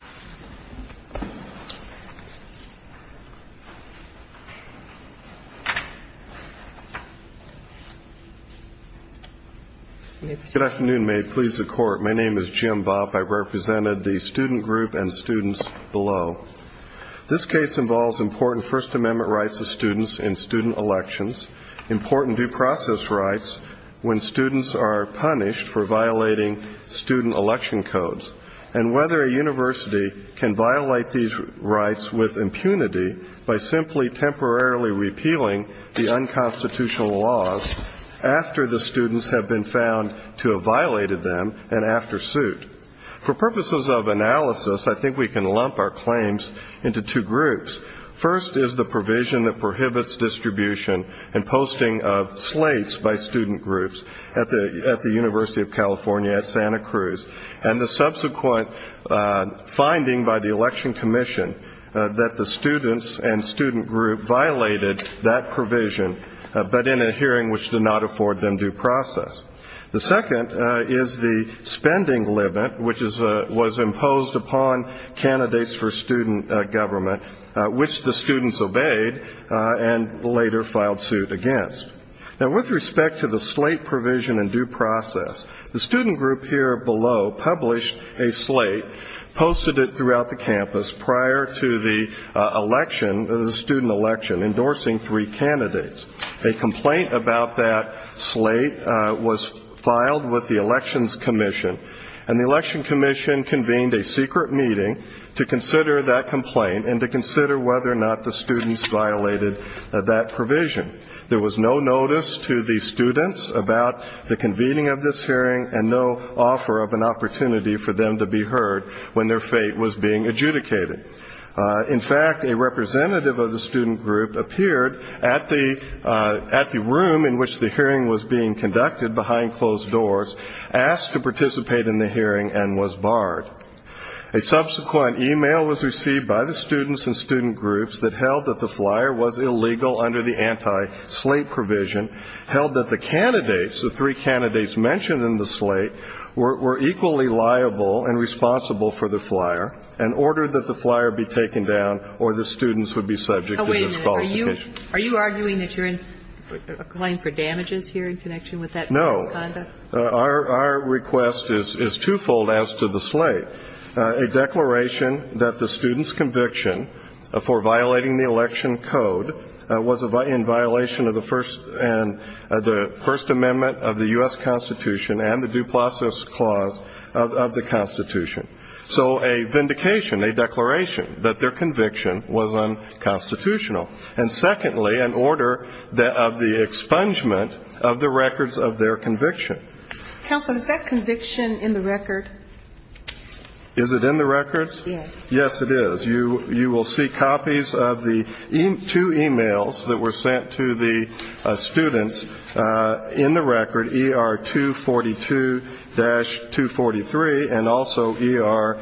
Good afternoon. May it please the Court, my name is Jim Bobb. I represented the student group and students below. This case involves important First Amendment rights of students in student elections, important due process rights when students are punished for violating student election codes, and whether a university can violate these rights with impunity by simply temporarily repealing the unconstitutional laws after the students have been found to have violated them and after suit. For purposes of analysis, I think we can lump our claims into two groups. First is the provision that prohibits distribution and posting of slates by student groups at the University of California at Santa Cruz and the subsequent finding by the Election Commission that the students and student group violated that provision but in a hearing which did not afford them due process. The second is the spending limit which was imposed upon candidates for student government which the students obeyed and later filed suit against. Now with respect to the slate provision and due process, the student group here below published a slate, posted it throughout the campus prior to the election, the student election, endorsing three candidates. A complaint about that slate was filed with the Elections Commission and the Election Commission convened a secret meeting to consider that complaint and to consider whether or not the students violated that provision. There was no notice to the students about the convening of this hearing and no offer of an opportunity for them to be heard when their fate was being adjudicated. In fact, a representative of the student group appeared at the room in which the hearing was being conducted behind closed doors, asked to participate in the hearing, and was barred. A subsequent e-mail was received by the students and student groups that held that the flyer was illegal under the anti-slate provision, held that the candidates, the three candidates mentioned in the slate, were equally liable and responsible for the flyer, and ordered that the flyer be taken down or the students would be subject to disqualification. Are you arguing that you're applying for damages here in connection with that misconduct? Our request is twofold as to the slate. A declaration that the students' conviction for violating the election code was in violation of the First Amendment of the U.S. Constitution and the Due Process Clause of the Constitution. So a vindication, a declaration that their conviction was unconstitutional. And secondly, an order of the expungement of the records of their conviction. Counsel, is that conviction in the record? Is it in the records? Yes. Yes, it is. You will see copies of the two e-mails that were sent to the students in the record, ER 242-243 and also ER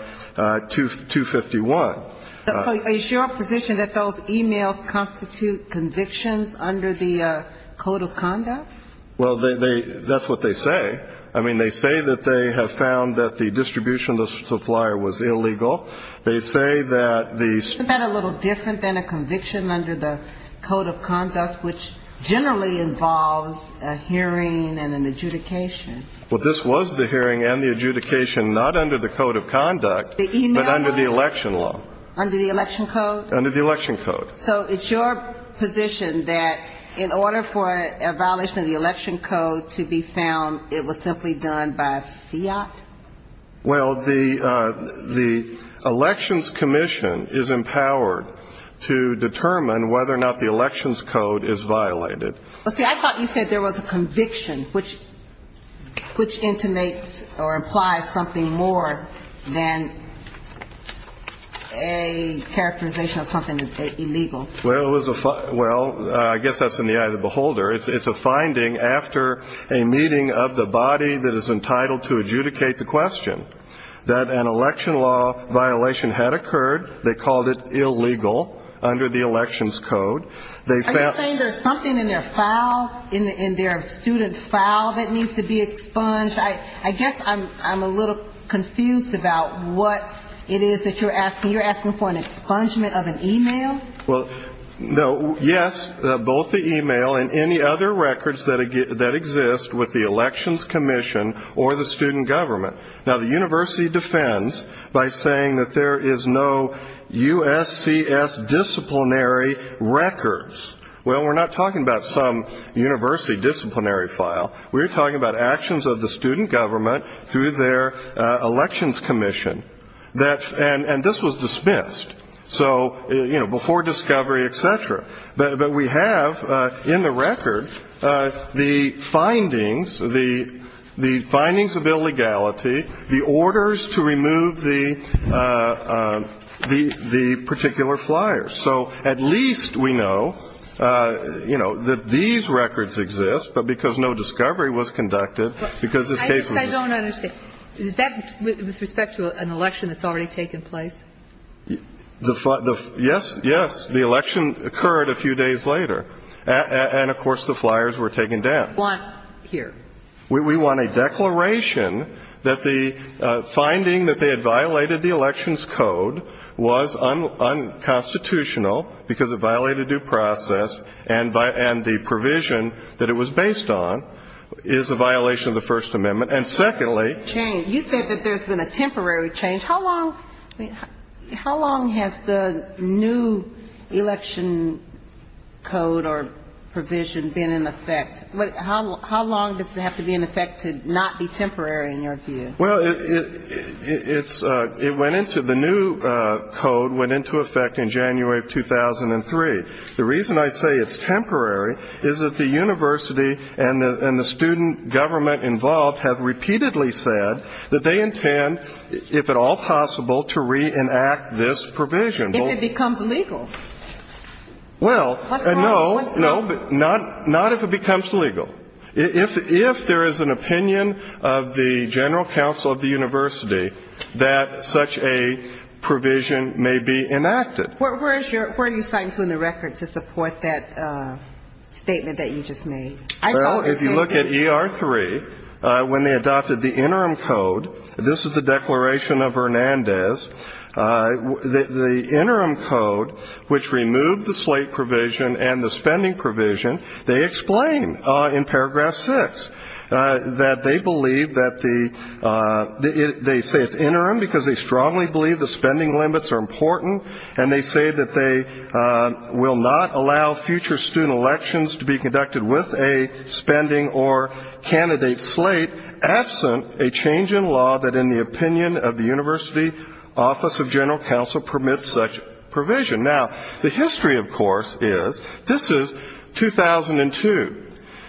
251. So is your position that those e-mails constitute convictions under the Code of Conduct? Well, that's what they say. I mean, they say that they have found that the distribution of the flyer was illegal. They say that the ‑‑ Isn't that a little different than a conviction under the Code of Conduct, which generally involves a hearing and an adjudication? Well, this was the hearing and the adjudication, not under the Code of Conduct, but under the election law. Under the election code? Under the election code. So it's your position that in order for a violation of the election code to be found, it was simply done by fiat? Well, the elections commission is empowered to determine whether or not the elections code is violated. Well, see, I thought you said there was a conviction, which intimates or implies something more than a characterization of something that's illegal. Well, it was a ‑‑ well, I guess that's in the eye of the beholder. It's a finding after a meeting of the body that is entitled to adjudicate the question that an election law violation had occurred. They called it illegal under the elections code. Are you saying there's something in their file, in their student file that needs to be expunged? I guess I'm a little confused about what it is that you're asking. You're asking for an expungement of an e‑mail? Well, no, yes, both the e‑mail and any other records that exist with the elections commission or the student government. Now, the university defends by saying that there is no USCS disciplinary records. Well, we're not talking about some university disciplinary file. We're talking about actions of the student government through their elections commission. And this was dismissed. So, you know, before discovery, et cetera. But we have in the record the findings, the findings of illegality, the orders to remove the particular flyers. So at least we know, you know, that these records exist, but because no discovery was conducted, because this case was ‑‑ I don't understand. Is that with respect to an election that's already taken place? Yes, yes. The election occurred a few days later. And, of course, the flyers were taken down. We want here. We want a declaration that the finding that they had violated the elections code was unconstitutional because it violated due process, and the provision that it was based on is a violation of the First Amendment. And, secondly ‑‑ Change. You said that there's been a temporary change. How long has the new election code or provision been in effect? How long does it have to be in effect to not be temporary, in your view? Well, it's ‑‑ it went into ‑‑ the new code went into effect in January of 2003. The reason I say it's temporary is that the university and the student government involved have repeatedly said that they intend, if at all possible, to reenact this provision. If it becomes legal. Well, no. What's wrong? What's wrong? If there is an opinion of the general counsel of the university that such a provision may be enacted. Where do you sign to in the record to support that statement that you just made? Well, if you look at ER3, when they adopted the interim code, this is the declaration of Hernandez. The interim code, which removed the slate provision and the spending provision, they explain in paragraph six that they believe that the ‑‑ they say it's interim because they strongly believe the spending limits are important, and they say that they will not allow future student elections to be conducted with a spending or candidate slate absent a change in law that in the opinion of the university office of general counsel permits such provision. Now, the history, of course, is this is 2002.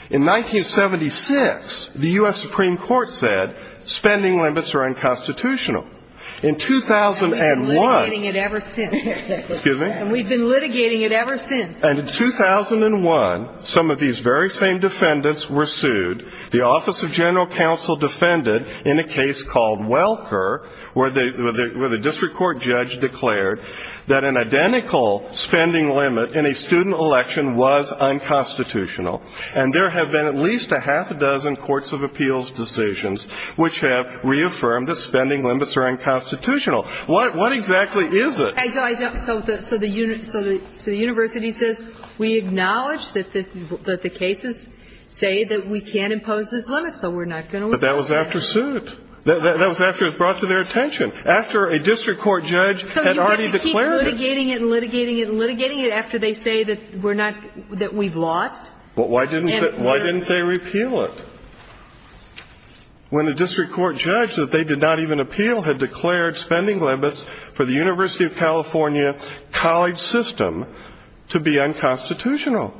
In 1976, the U.S. Supreme Court said spending limits are unconstitutional. In 2001 ‑‑ And we've been litigating it ever since. Excuse me? And we've been litigating it ever since. And in 2001, some of these very same defendants were sued. The office of general counsel defended in a case called Welker, where the district court judge declared that an identical spending limit in a student election was unconstitutional. And there have been at least a half a dozen courts of appeals decisions which have reaffirmed that spending limits are unconstitutional. What exactly is it? So the university says we acknowledge that the cases say that we can't impose this limit, so we're not going to ‑‑ But that was after suit. That was after it was brought to their attention. After a district court judge had already declared it. So you're going to keep litigating it and litigating it and litigating it after they say that we're not ‑‑ that we've lost? Why didn't they repeal it? When a district court judge that they did not even appeal had declared spending limits for the University of California college system to be unconstitutional.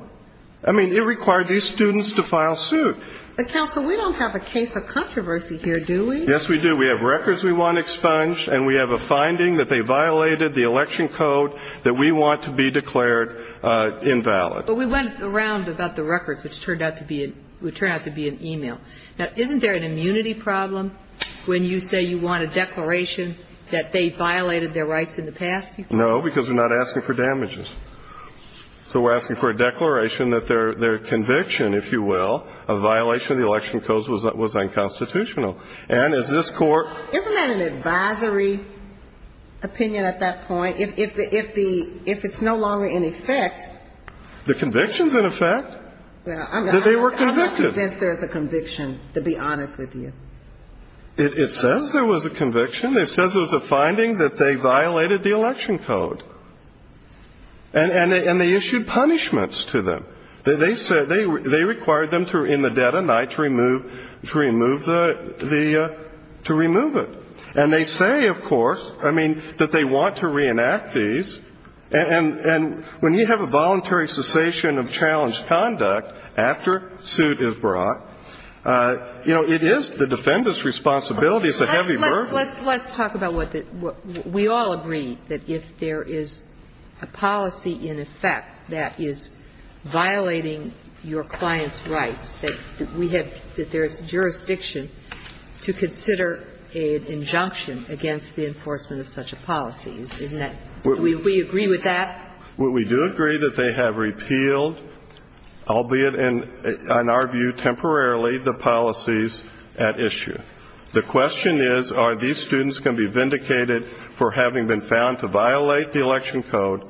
I mean, it required these students to file suit. But, counsel, we don't have a case of controversy here, do we? Yes, we do. We have records we want expunged, and we have a finding that they violated the election code that we want to be declared invalid. But we went around about the records, which turned out to be an e‑mail. Now, isn't there an immunity problem when you say you want a declaration that they violated their rights in the past? No, because we're not asking for damages. So we're asking for a declaration that their conviction, if you will, of violation of the election code was unconstitutional. And as this court ‑‑ Isn't that an advisory opinion at that point? If the ‑‑ if it's no longer in effect? The conviction's in effect? I'm not convinced there's a conviction, to be honest with you. It says there was a conviction. It says there was a finding that they violated the election code. And they issued punishments to them. They required them to, in the dead of night, to remove the ‑‑ to remove it. And they say, of course, I mean, that they want to reenact these. And when you have a voluntary cessation of challenged conduct after suit is brought, you know, it is the defendant's responsibility. It's a heavy burden. Let's talk about what ‑‑ we all agree that if there is a policy in effect that is violating your client's rights, that we have ‑‑ that there is jurisdiction to consider an injunction against the enforcement of such a policy. Isn't that ‑‑ do we agree with that? We do agree that they have repealed, albeit in our view temporarily, the policies at issue. The question is, are these students going to be vindicated for having been found to violate the election code,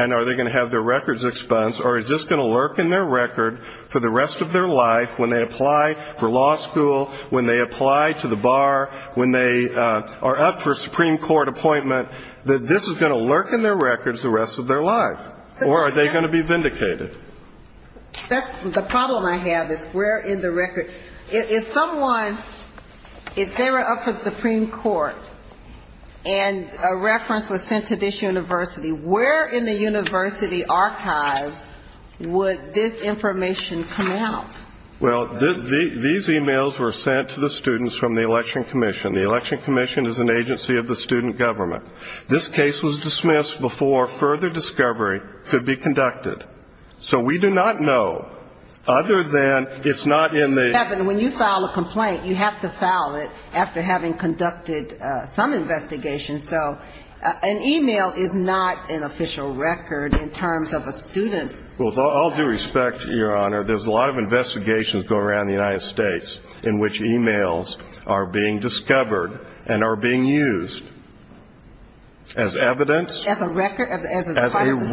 and are they going to have their records expunged, or is this going to lurk in their record for the rest of their life when they apply for law school, when they apply to the bar, when they are up for Supreme Court appointment, that this is going to lurk in their records the rest of their life? Or are they going to be vindicated? That's the problem I have, is we're in the record. If someone, if they were up for Supreme Court, and a reference was sent to this university, where in the university archives would this information come out? Well, these e‑mails were sent to the students from the election commission. The election commission is an agency of the student government. This case was dismissed before further discovery could be conducted. So we do not know, other than it's not in the ‑‑ When you file a complaint, you have to file it after having conducted some investigation. So an e‑mail is not an official record in terms of a student's record. With all due respect, Your Honor, there's a lot of investigations going around the United States in which e‑mails are being discovered and are being used as evidence. As a record? As a record. As a student's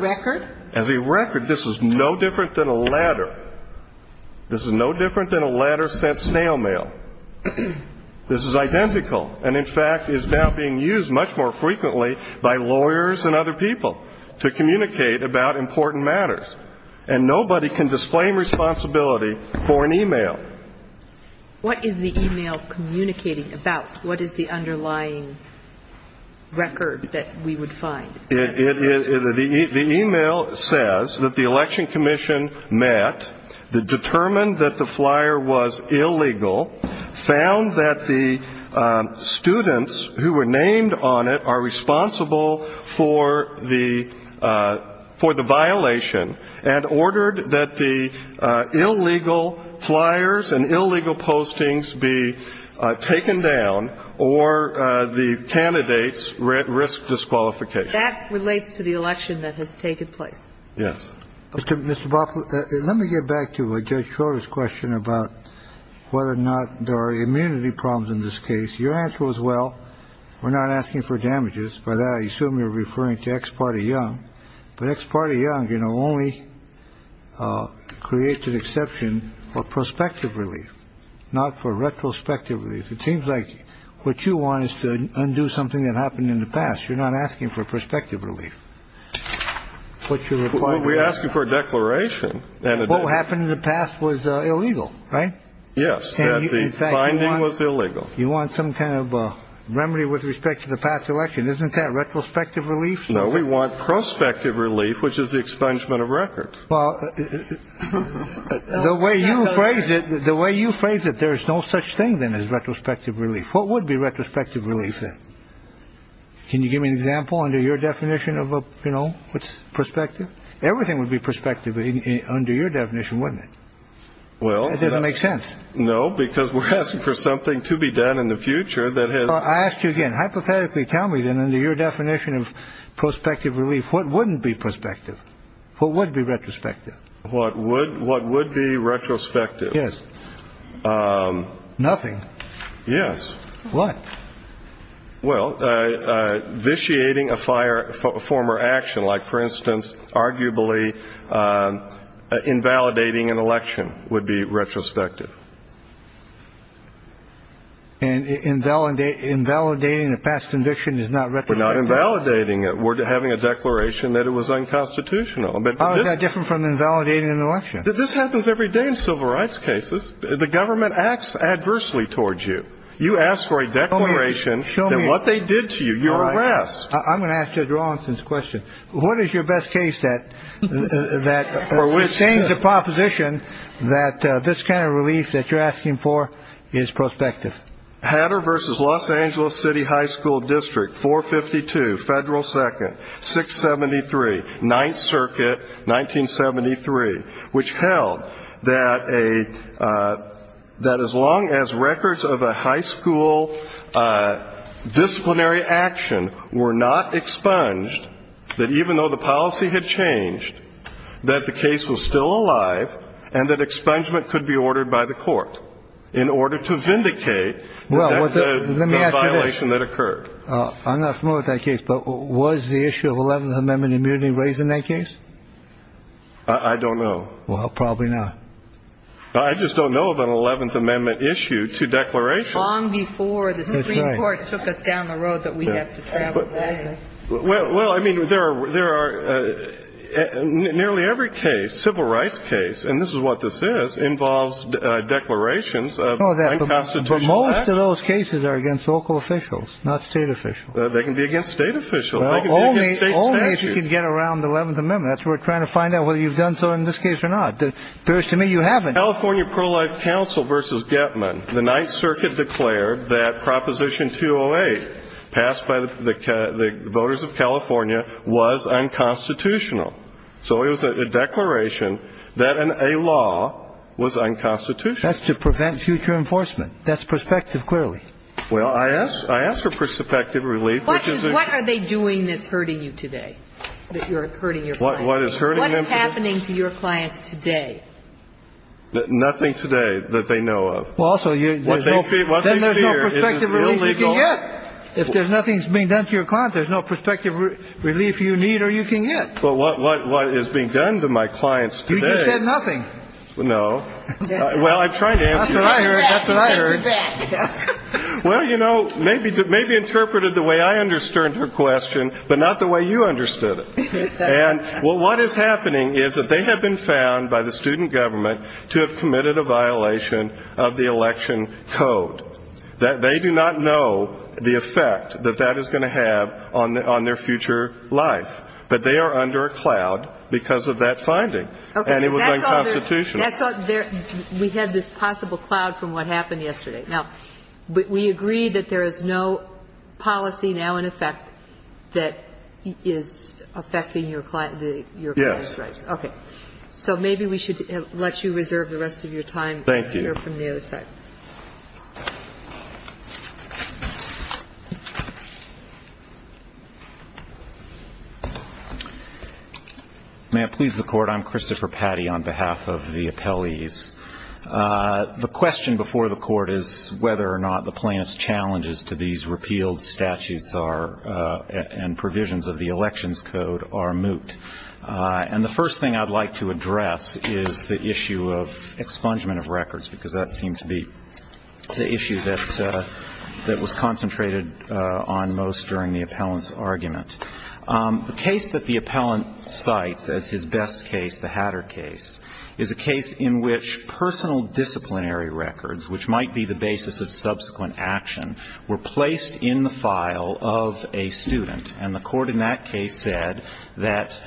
record? As a record. This is no different than a letter. This is no different than a letter sent snail mail. This is identical and, in fact, is now being used much more frequently by lawyers and other people to communicate about important matters. And nobody can disclaim responsibility for an e‑mail. What is the e‑mail communicating about? What is the underlying record that we would find? The e‑mail says that the election commission met, determined that the flyer was illegal, found that the students who were named on it are responsible for the violation, and ordered that the illegal flyers and illegal postings be taken down or the candidates risk disqualification. That relates to the election that has taken place. Yes. Mr. Boffert, let me get back to Judge Schroeder's question about whether or not there are immunity problems in this case. Your answer was, well, we're not asking for damages. By that, I assume you're referring to ex parte young. But ex parte young, you know, only creates an exception for prospective relief, not for retrospective relief. It seems like what you want is to undo something that happened in the past. You're not asking for prospective relief. We're asking for a declaration. What happened in the past was illegal, right? Yes. The finding was illegal. You want some kind of remedy with respect to the past election. Isn't that retrospective relief? No, we want prospective relief, which is the expungement of records. Well, the way you phrase it, the way you phrase it, there is no such thing then as retrospective relief. What would be retrospective relief? Can you give me an example under your definition of, you know, perspective? Everything would be perspective under your definition, wouldn't it? Well, it doesn't make sense. No, because we're asking for something to be done in the future. I asked you again, hypothetically, tell me then under your definition of prospective relief, what wouldn't be perspective? What would be retrospective? What would what would be retrospective? Yes. Nothing. Yes. What? Well, vitiating a fire, a former action like, for instance, arguably invalidating an election would be retrospective. And invalidate invalidating a past conviction is not. We're not invalidating it. We're having a declaration that it was unconstitutional. But how is that different from invalidating an election? This happens every day in civil rights cases. The government acts adversely towards you. You ask for a declaration. Show me what they did to you. You're harassed. I'm going to ask you to draw on this question. What is your best case that that we're saying the proposition that this kind of relief that you're asking for is prospective? Hatter versus Los Angeles City High School District four fifty two federal second six seventy three. Ninth Circuit. Nineteen seventy three. Which held that a that as long as records of a high school disciplinary action were not expunged, that even though the policy had changed, that the case was still alive and that expungement could be ordered by the court in order to vindicate. Well, let me ask you this. The violation that occurred. I'm not familiar with that case, but was the issue of 11th Amendment immunity raised in that case? I don't know. Well, probably not. I just don't know of an 11th Amendment issue to declaration before the Supreme Court took us down the road that we have to. Well, well, I mean, there are there are nearly every case civil rights case. And this is what this is involves declarations of constitutional. Most of those cases are against local officials, not state officials. They can be against state officials. Well, only if you can get around the 11th Amendment. That's we're trying to find out whether you've done so in this case or not. There is to me you haven't. California Pro-life Council versus Getman. The Ninth Circuit declared that Proposition 208 passed by the voters of California was unconstitutional. So it was a declaration that a law was unconstitutional. That's to prevent future enforcement. That's perspective, clearly. Well, I ask for perspective relief. What are they doing that's hurting you today? That you're hurting your client? What is hurting them? What's happening to your clients today? Nothing today that they know of. Well, also, what they fear is illegal. Then there's no perspective relief you can get. If there's nothing being done to your client, there's no perspective relief you need or you can get. But what is being done to my clients today? You just said nothing. No. Well, I'm trying to answer your question. That's what I heard. Well, you know, maybe interpreted the way I understood her question, but not the way you understood it. And what is happening is that they have been found by the student government to have committed a violation of the election code. They do not know the effect that that is going to have on their future life. But they are under a cloud because of that finding. And it was unconstitutional. We had this possible cloud from what happened yesterday. Now, we agree that there is no policy now in effect that is affecting your client's rights. Yes. Okay. So maybe we should let you reserve the rest of your time. Thank you. And enter from the other side. May it please the Court. I'm Christopher Patty on behalf of the appellees. The question before the Court is whether or not the plaintiff's challenges to these repealed statutes are and provisions of the elections code are moot. And the first thing I'd like to address is the issue of expungement of records, because that seemed to be the issue that was concentrated on most during the appellant's argument. The case that the appellant cites as his best case, the Hatter case, is a case in which personal disciplinary records, which might be the basis of subsequent action, were placed in the file of a student. And the Court in that case said that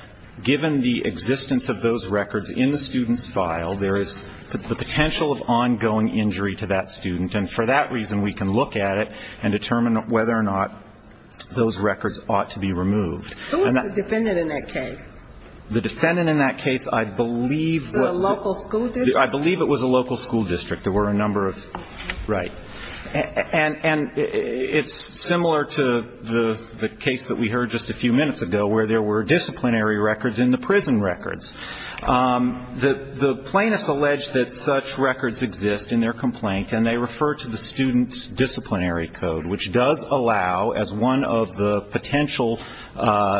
given the existence of those records in the student's file, there is the potential of ongoing injury to that student. And for that reason, we can look at it and determine whether or not those records ought to be removed. Who was the defendant in that case? The defendant in that case, I believe was the local school district. I believe it was a local school district. There were a number of, right. And it's similar to the case that we heard just a few minutes ago, where there were disciplinary records in the prison records. The plaintiffs allege that such records exist in their complaint, and they refer to the student's disciplinary code, which does allow, as one of the potential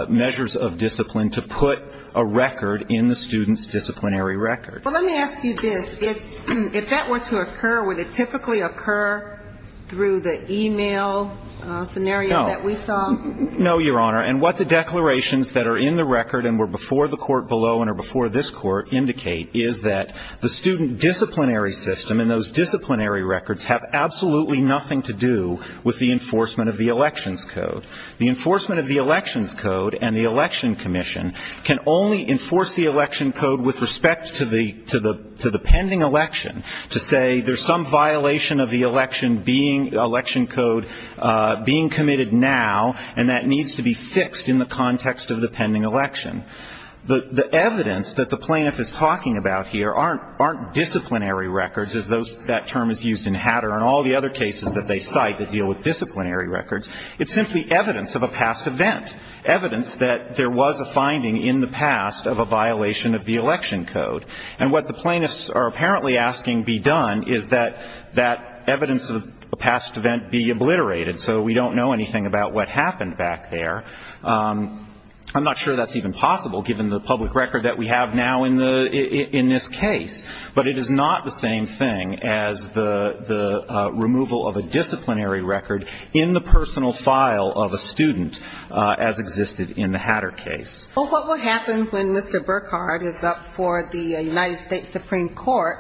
measures of discipline, to put a record in the student's disciplinary record. But let me ask you this. If that were to occur, would it typically occur through the e-mail scenario that we saw? No, Your Honor. And what the declarations that are in the record and were before the Court below and are before this Court indicate is that the student disciplinary system and those disciplinary records have absolutely nothing to do with the enforcement of the Elections Code. The enforcement of the Elections Code and the Election Commission can only enforce the Election Code with respect to the pending election to say there's some violation of the Election Code being committed now, and that needs to be fixed in the context of the pending election. The evidence that the plaintiff is talking about here aren't disciplinary records, as that term is used in Hatter and all the other cases that they cite that deal with disciplinary records. It's simply evidence of a past event, evidence that there was a finding in the past of a violation of the Election Code. And what the plaintiffs are apparently asking be done is that that evidence of a past event be obliterated so we don't know anything about what happened back there. I'm not sure that's even possible given the public record that we have now in this case. But it is not the same thing as the removal of a disciplinary record in the personal file of a student as existed in the Hatter case. But what would happen when Mr. Burkhardt is up for the United States Supreme Court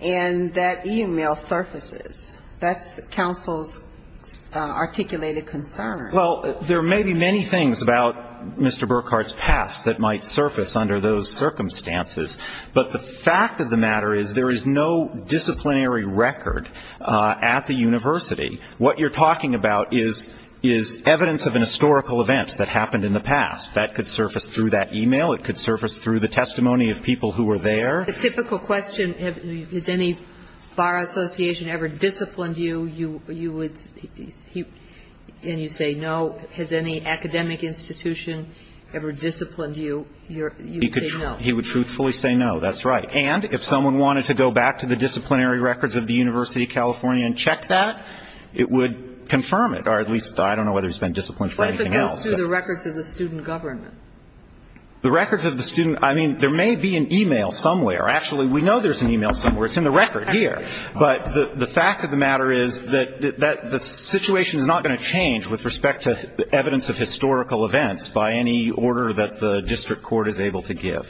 and that e-mail surfaces? That's counsel's articulated concern. Well, there may be many things about Mr. Burkhardt's past that might surface under those circumstances. But the fact of the matter is there is no disciplinary record at the university. What you're talking about is evidence of an historical event that happened in the past. That could surface through that e-mail. It could surface through the testimony of people who were there. The typical question, has any bar association ever disciplined you, you would say no. Has any academic institution ever disciplined you, you would say no. He would truthfully say no. That's right. And if someone wanted to go back to the disciplinary records of the University of California and check that, it would confirm it, or at least I don't know whether he's been disciplined for anything else. What if it goes through the records of the student government? The records of the student, I mean, there may be an e-mail somewhere. Actually, we know there's an e-mail somewhere. It's in the record here. But the fact of the matter is that the situation is not going to change with respect to evidence of historical events by any order that the district court is able to give.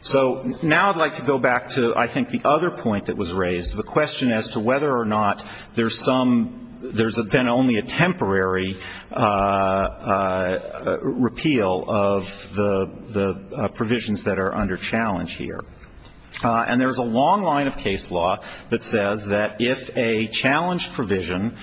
So now I'd like to go back to, I think, the other point that was raised, the question as to whether or not there's been only a temporary repeal of the provisions that are under challenge here. And there's a long line of case law that says that if a challenge provision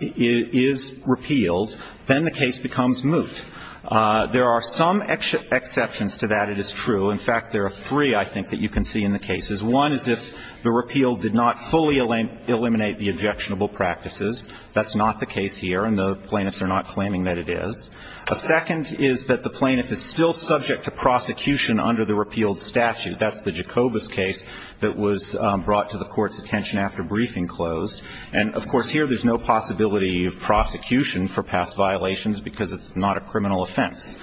is repealed, then the case becomes moot. There are some exceptions to that. It is true. In fact, there are three, I think, that you can see in the cases. One is if the repeal did not fully eliminate the objectionable practices. That's not the case here, and the plaintiffs are not claiming that it is. A second is that the plaintiff is still subject to prosecution under the repealed statute. That's the Jacobus case that was brought to the Court's attention after briefing closed. And, of course, here there's no possibility of prosecution for past violations because it's not a criminal offense.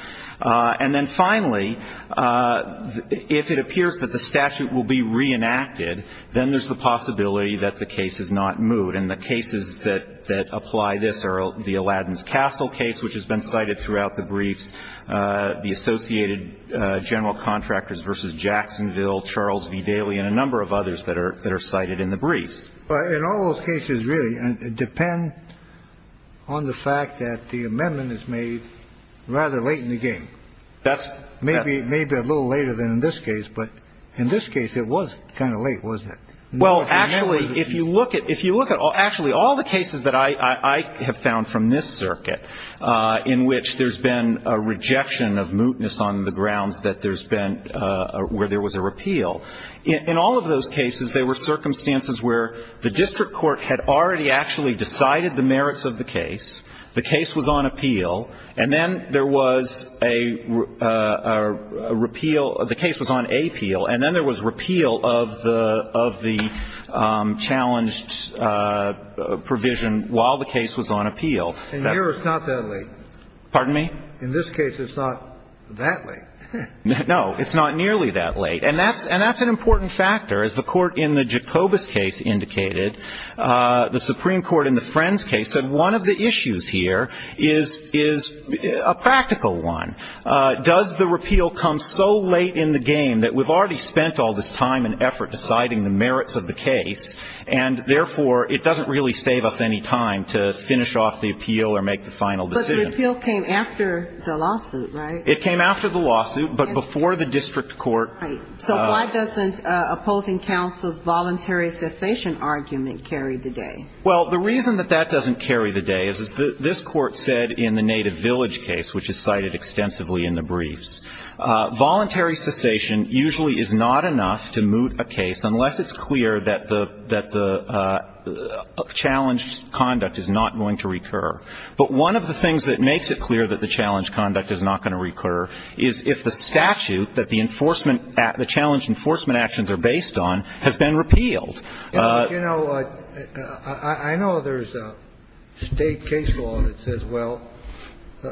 And then finally, if it appears that the statute will be reenacted, then there's the possibility that the case is not moot. And the cases that apply this are the Alladin's Castle case, which has been cited throughout the briefs, the Associated General Contractors v. Jacksonville, Charles V. Daly, and a number of others that are cited in the briefs. In all those cases, really, it depends on the fact that the amendment is made rather late in the game. That's right. Maybe a little later than in this case, but in this case it was kind of late, wasn't it? Well, actually, if you look at all the cases that I have found from this circuit in which there's been a rejection of mootness on the grounds that there's been where there was a repeal. In all of those cases, there were circumstances where the district court had already actually decided the merits of the case, the case was on appeal, and then there was a repeal of the case was on appeal, and then there was repeal of the challenged provision while the case was on appeal. And yours is not that late. Pardon me? In this case, it's not that late. No. It's not nearly that late. And that's an important factor. As the Court in the Jacobus case indicated, the Supreme Court in the Friends case said one of the issues here is a practical one. Does the repeal come so late in the game that we've already spent all this time and effort deciding the merits of the case, and therefore it doesn't really save us any time to finish off the appeal or make the final decision? But the repeal came after the lawsuit, right? It came after the lawsuit, but before the district court. So why doesn't opposing counsel's voluntary cessation argument carry the day? Well, the reason that that doesn't carry the day is that this Court said in the Native Village case, which is cited extensively in the briefs, voluntary cessation usually is not enough to moot a case unless it's clear that the challenged conduct is not going to recur. But one of the things that makes it clear that the challenged conduct is not going to recur is if the statute that the enforcement at the challenged enforcement actions are based on has been repealed. You know, I know there's a state case law that says, well,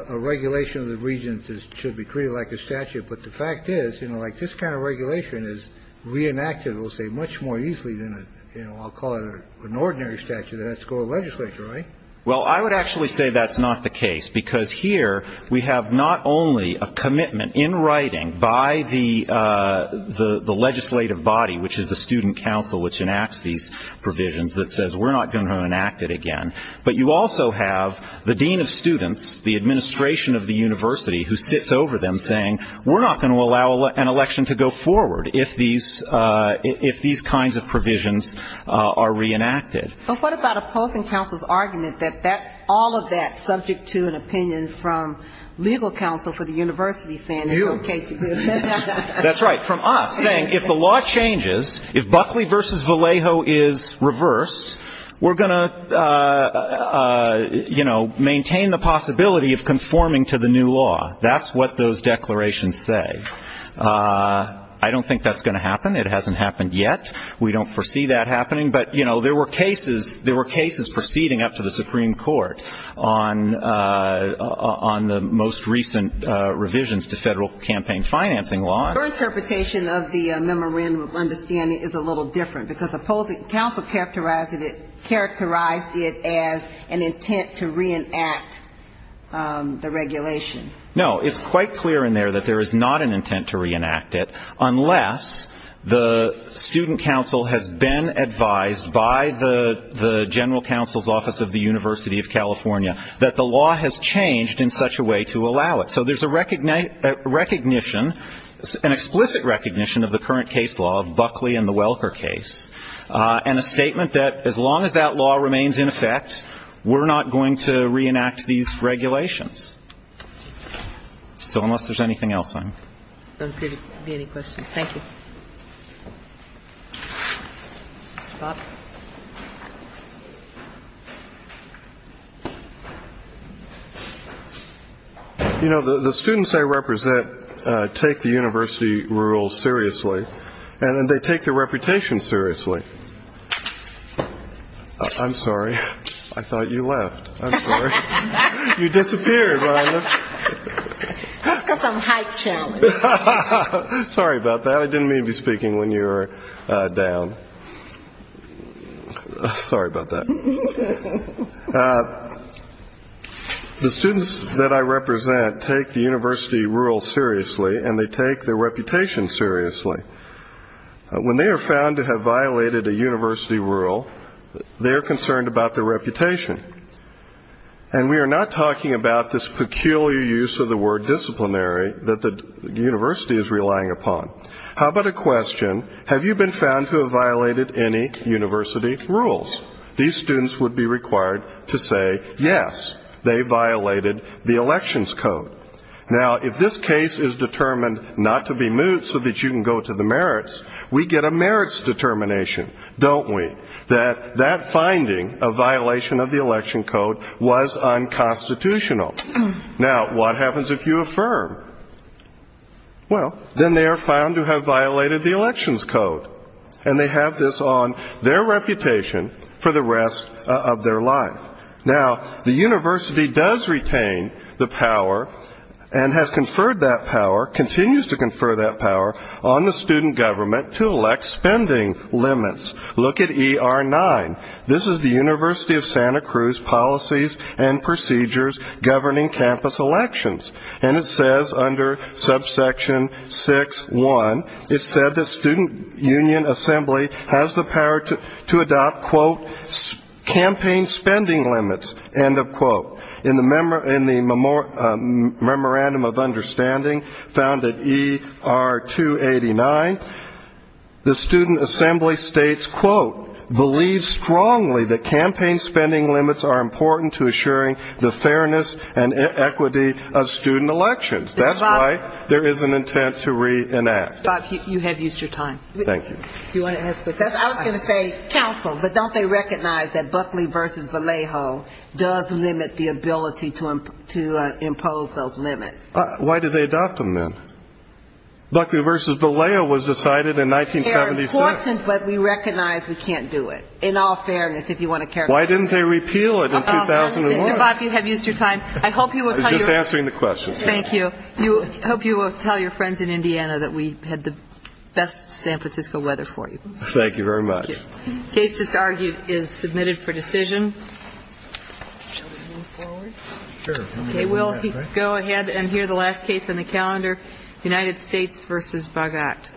a regulation of the region should be treated like a statute. But the fact is, you know, like this kind of regulation is reenacted, we'll say, much more easily than a, you know, I'll call it an ordinary statute that has to go to legislature, right? Well, I would actually say that's not the case, because here we have not only a commitment in writing by the legislative body, which is the student council, which enacts these provisions, that says we're not going to enact it again. But you also have the dean of students, the administration of the university, who sits over them saying we're not going to allow an election to go forward if these kinds of provisions are reenacted. But what about opposing counsel's argument that that's all of that subject to an opinion from legal counsel for the university saying it's okay to do it? That's right. From us saying if the law changes, if Buckley v. Vallejo is reversed, we're going to, you know, maintain the possibility of conforming to the new law. That's what those declarations say. I don't think that's going to happen. It hasn't happened yet. We don't foresee that happening. But, you know, there were cases proceeding up to the Supreme Court on the most recent revisions to federal campaign financing law. Your interpretation of the memorandum of understanding is a little different, because opposing counsel characterized it as an intent to reenact the regulation. No, it's quite clear in there that there is not an intent to reenact it, unless the student counsel has been advised by the general counsel's office of the University of California that the law has changed in such a way to allow it. So there's a recognition, an explicit recognition of the current case law of Buckley and the Welker case, and a statement that as long as that law remains in effect, we're not going to reenact these regulations. So unless there's anything else, I'm going to. Thank you. Bob? You know, the students I represent take the university rules seriously, and then they take their reputation seriously. I'm sorry. I thought you left. I'm sorry. You disappeared. Let's go some height challenge. Sorry about that. I didn't mean to be speaking when you were down. Sorry about that. The students that I represent take the university rules seriously, and they take their reputation seriously. When they are found to have violated a university rule, they're concerned about their reputation. And we are not talking about this peculiar use of the word disciplinary that the university is relying upon. How about a question, have you been found to have violated any university rules? These students would be required to say yes, they violated the elections code. Now, if this case is determined not to be moved so that you can go to the merits, we get a merits determination, don't we, that that finding of violation of the election code was unconstitutional. Now, what happens if you affirm? Well, then they are found to have violated the elections code, and they have this on their reputation for the rest of their life. Now, the university does retain the power and has conferred that power, continues to confer that power on the student government to elect spending limits. Look at ER 9. This is the University of Santa Cruz policies and procedures governing campus elections. And it says under subsection 6.1, it said that student union assembly has the power to adopt, quote, campaign spending limits, end of quote. In the memorandum of understanding found at ER 289, the student assembly states, quote, believes strongly that campaign spending limits are important to assuring the fairness and equity of student elections. That's why there is an intent to reenact. Bob, you have used your time. Thank you. I was going to say counsel, but don't they recognize that Buckley v. Vallejo does limit the ability to impose those limits? Why do they adopt them, then? Buckley v. Vallejo was decided in 1976. They're important, but we recognize we can't do it, in all fairness, if you want to characterize it. Why didn't they repeal it in 2001? Mr. Bob, you have used your time. I hope you will tell your friends. I was just answering the question. Thank you. I hope you will tell your friends in Indiana that we had the best San Francisco weather for you. Thank you very much. The case just argued is submitted for decision. Shall we move forward? Sure. Okay, we'll go ahead and hear the last case on the calendar, United States v. Bogot.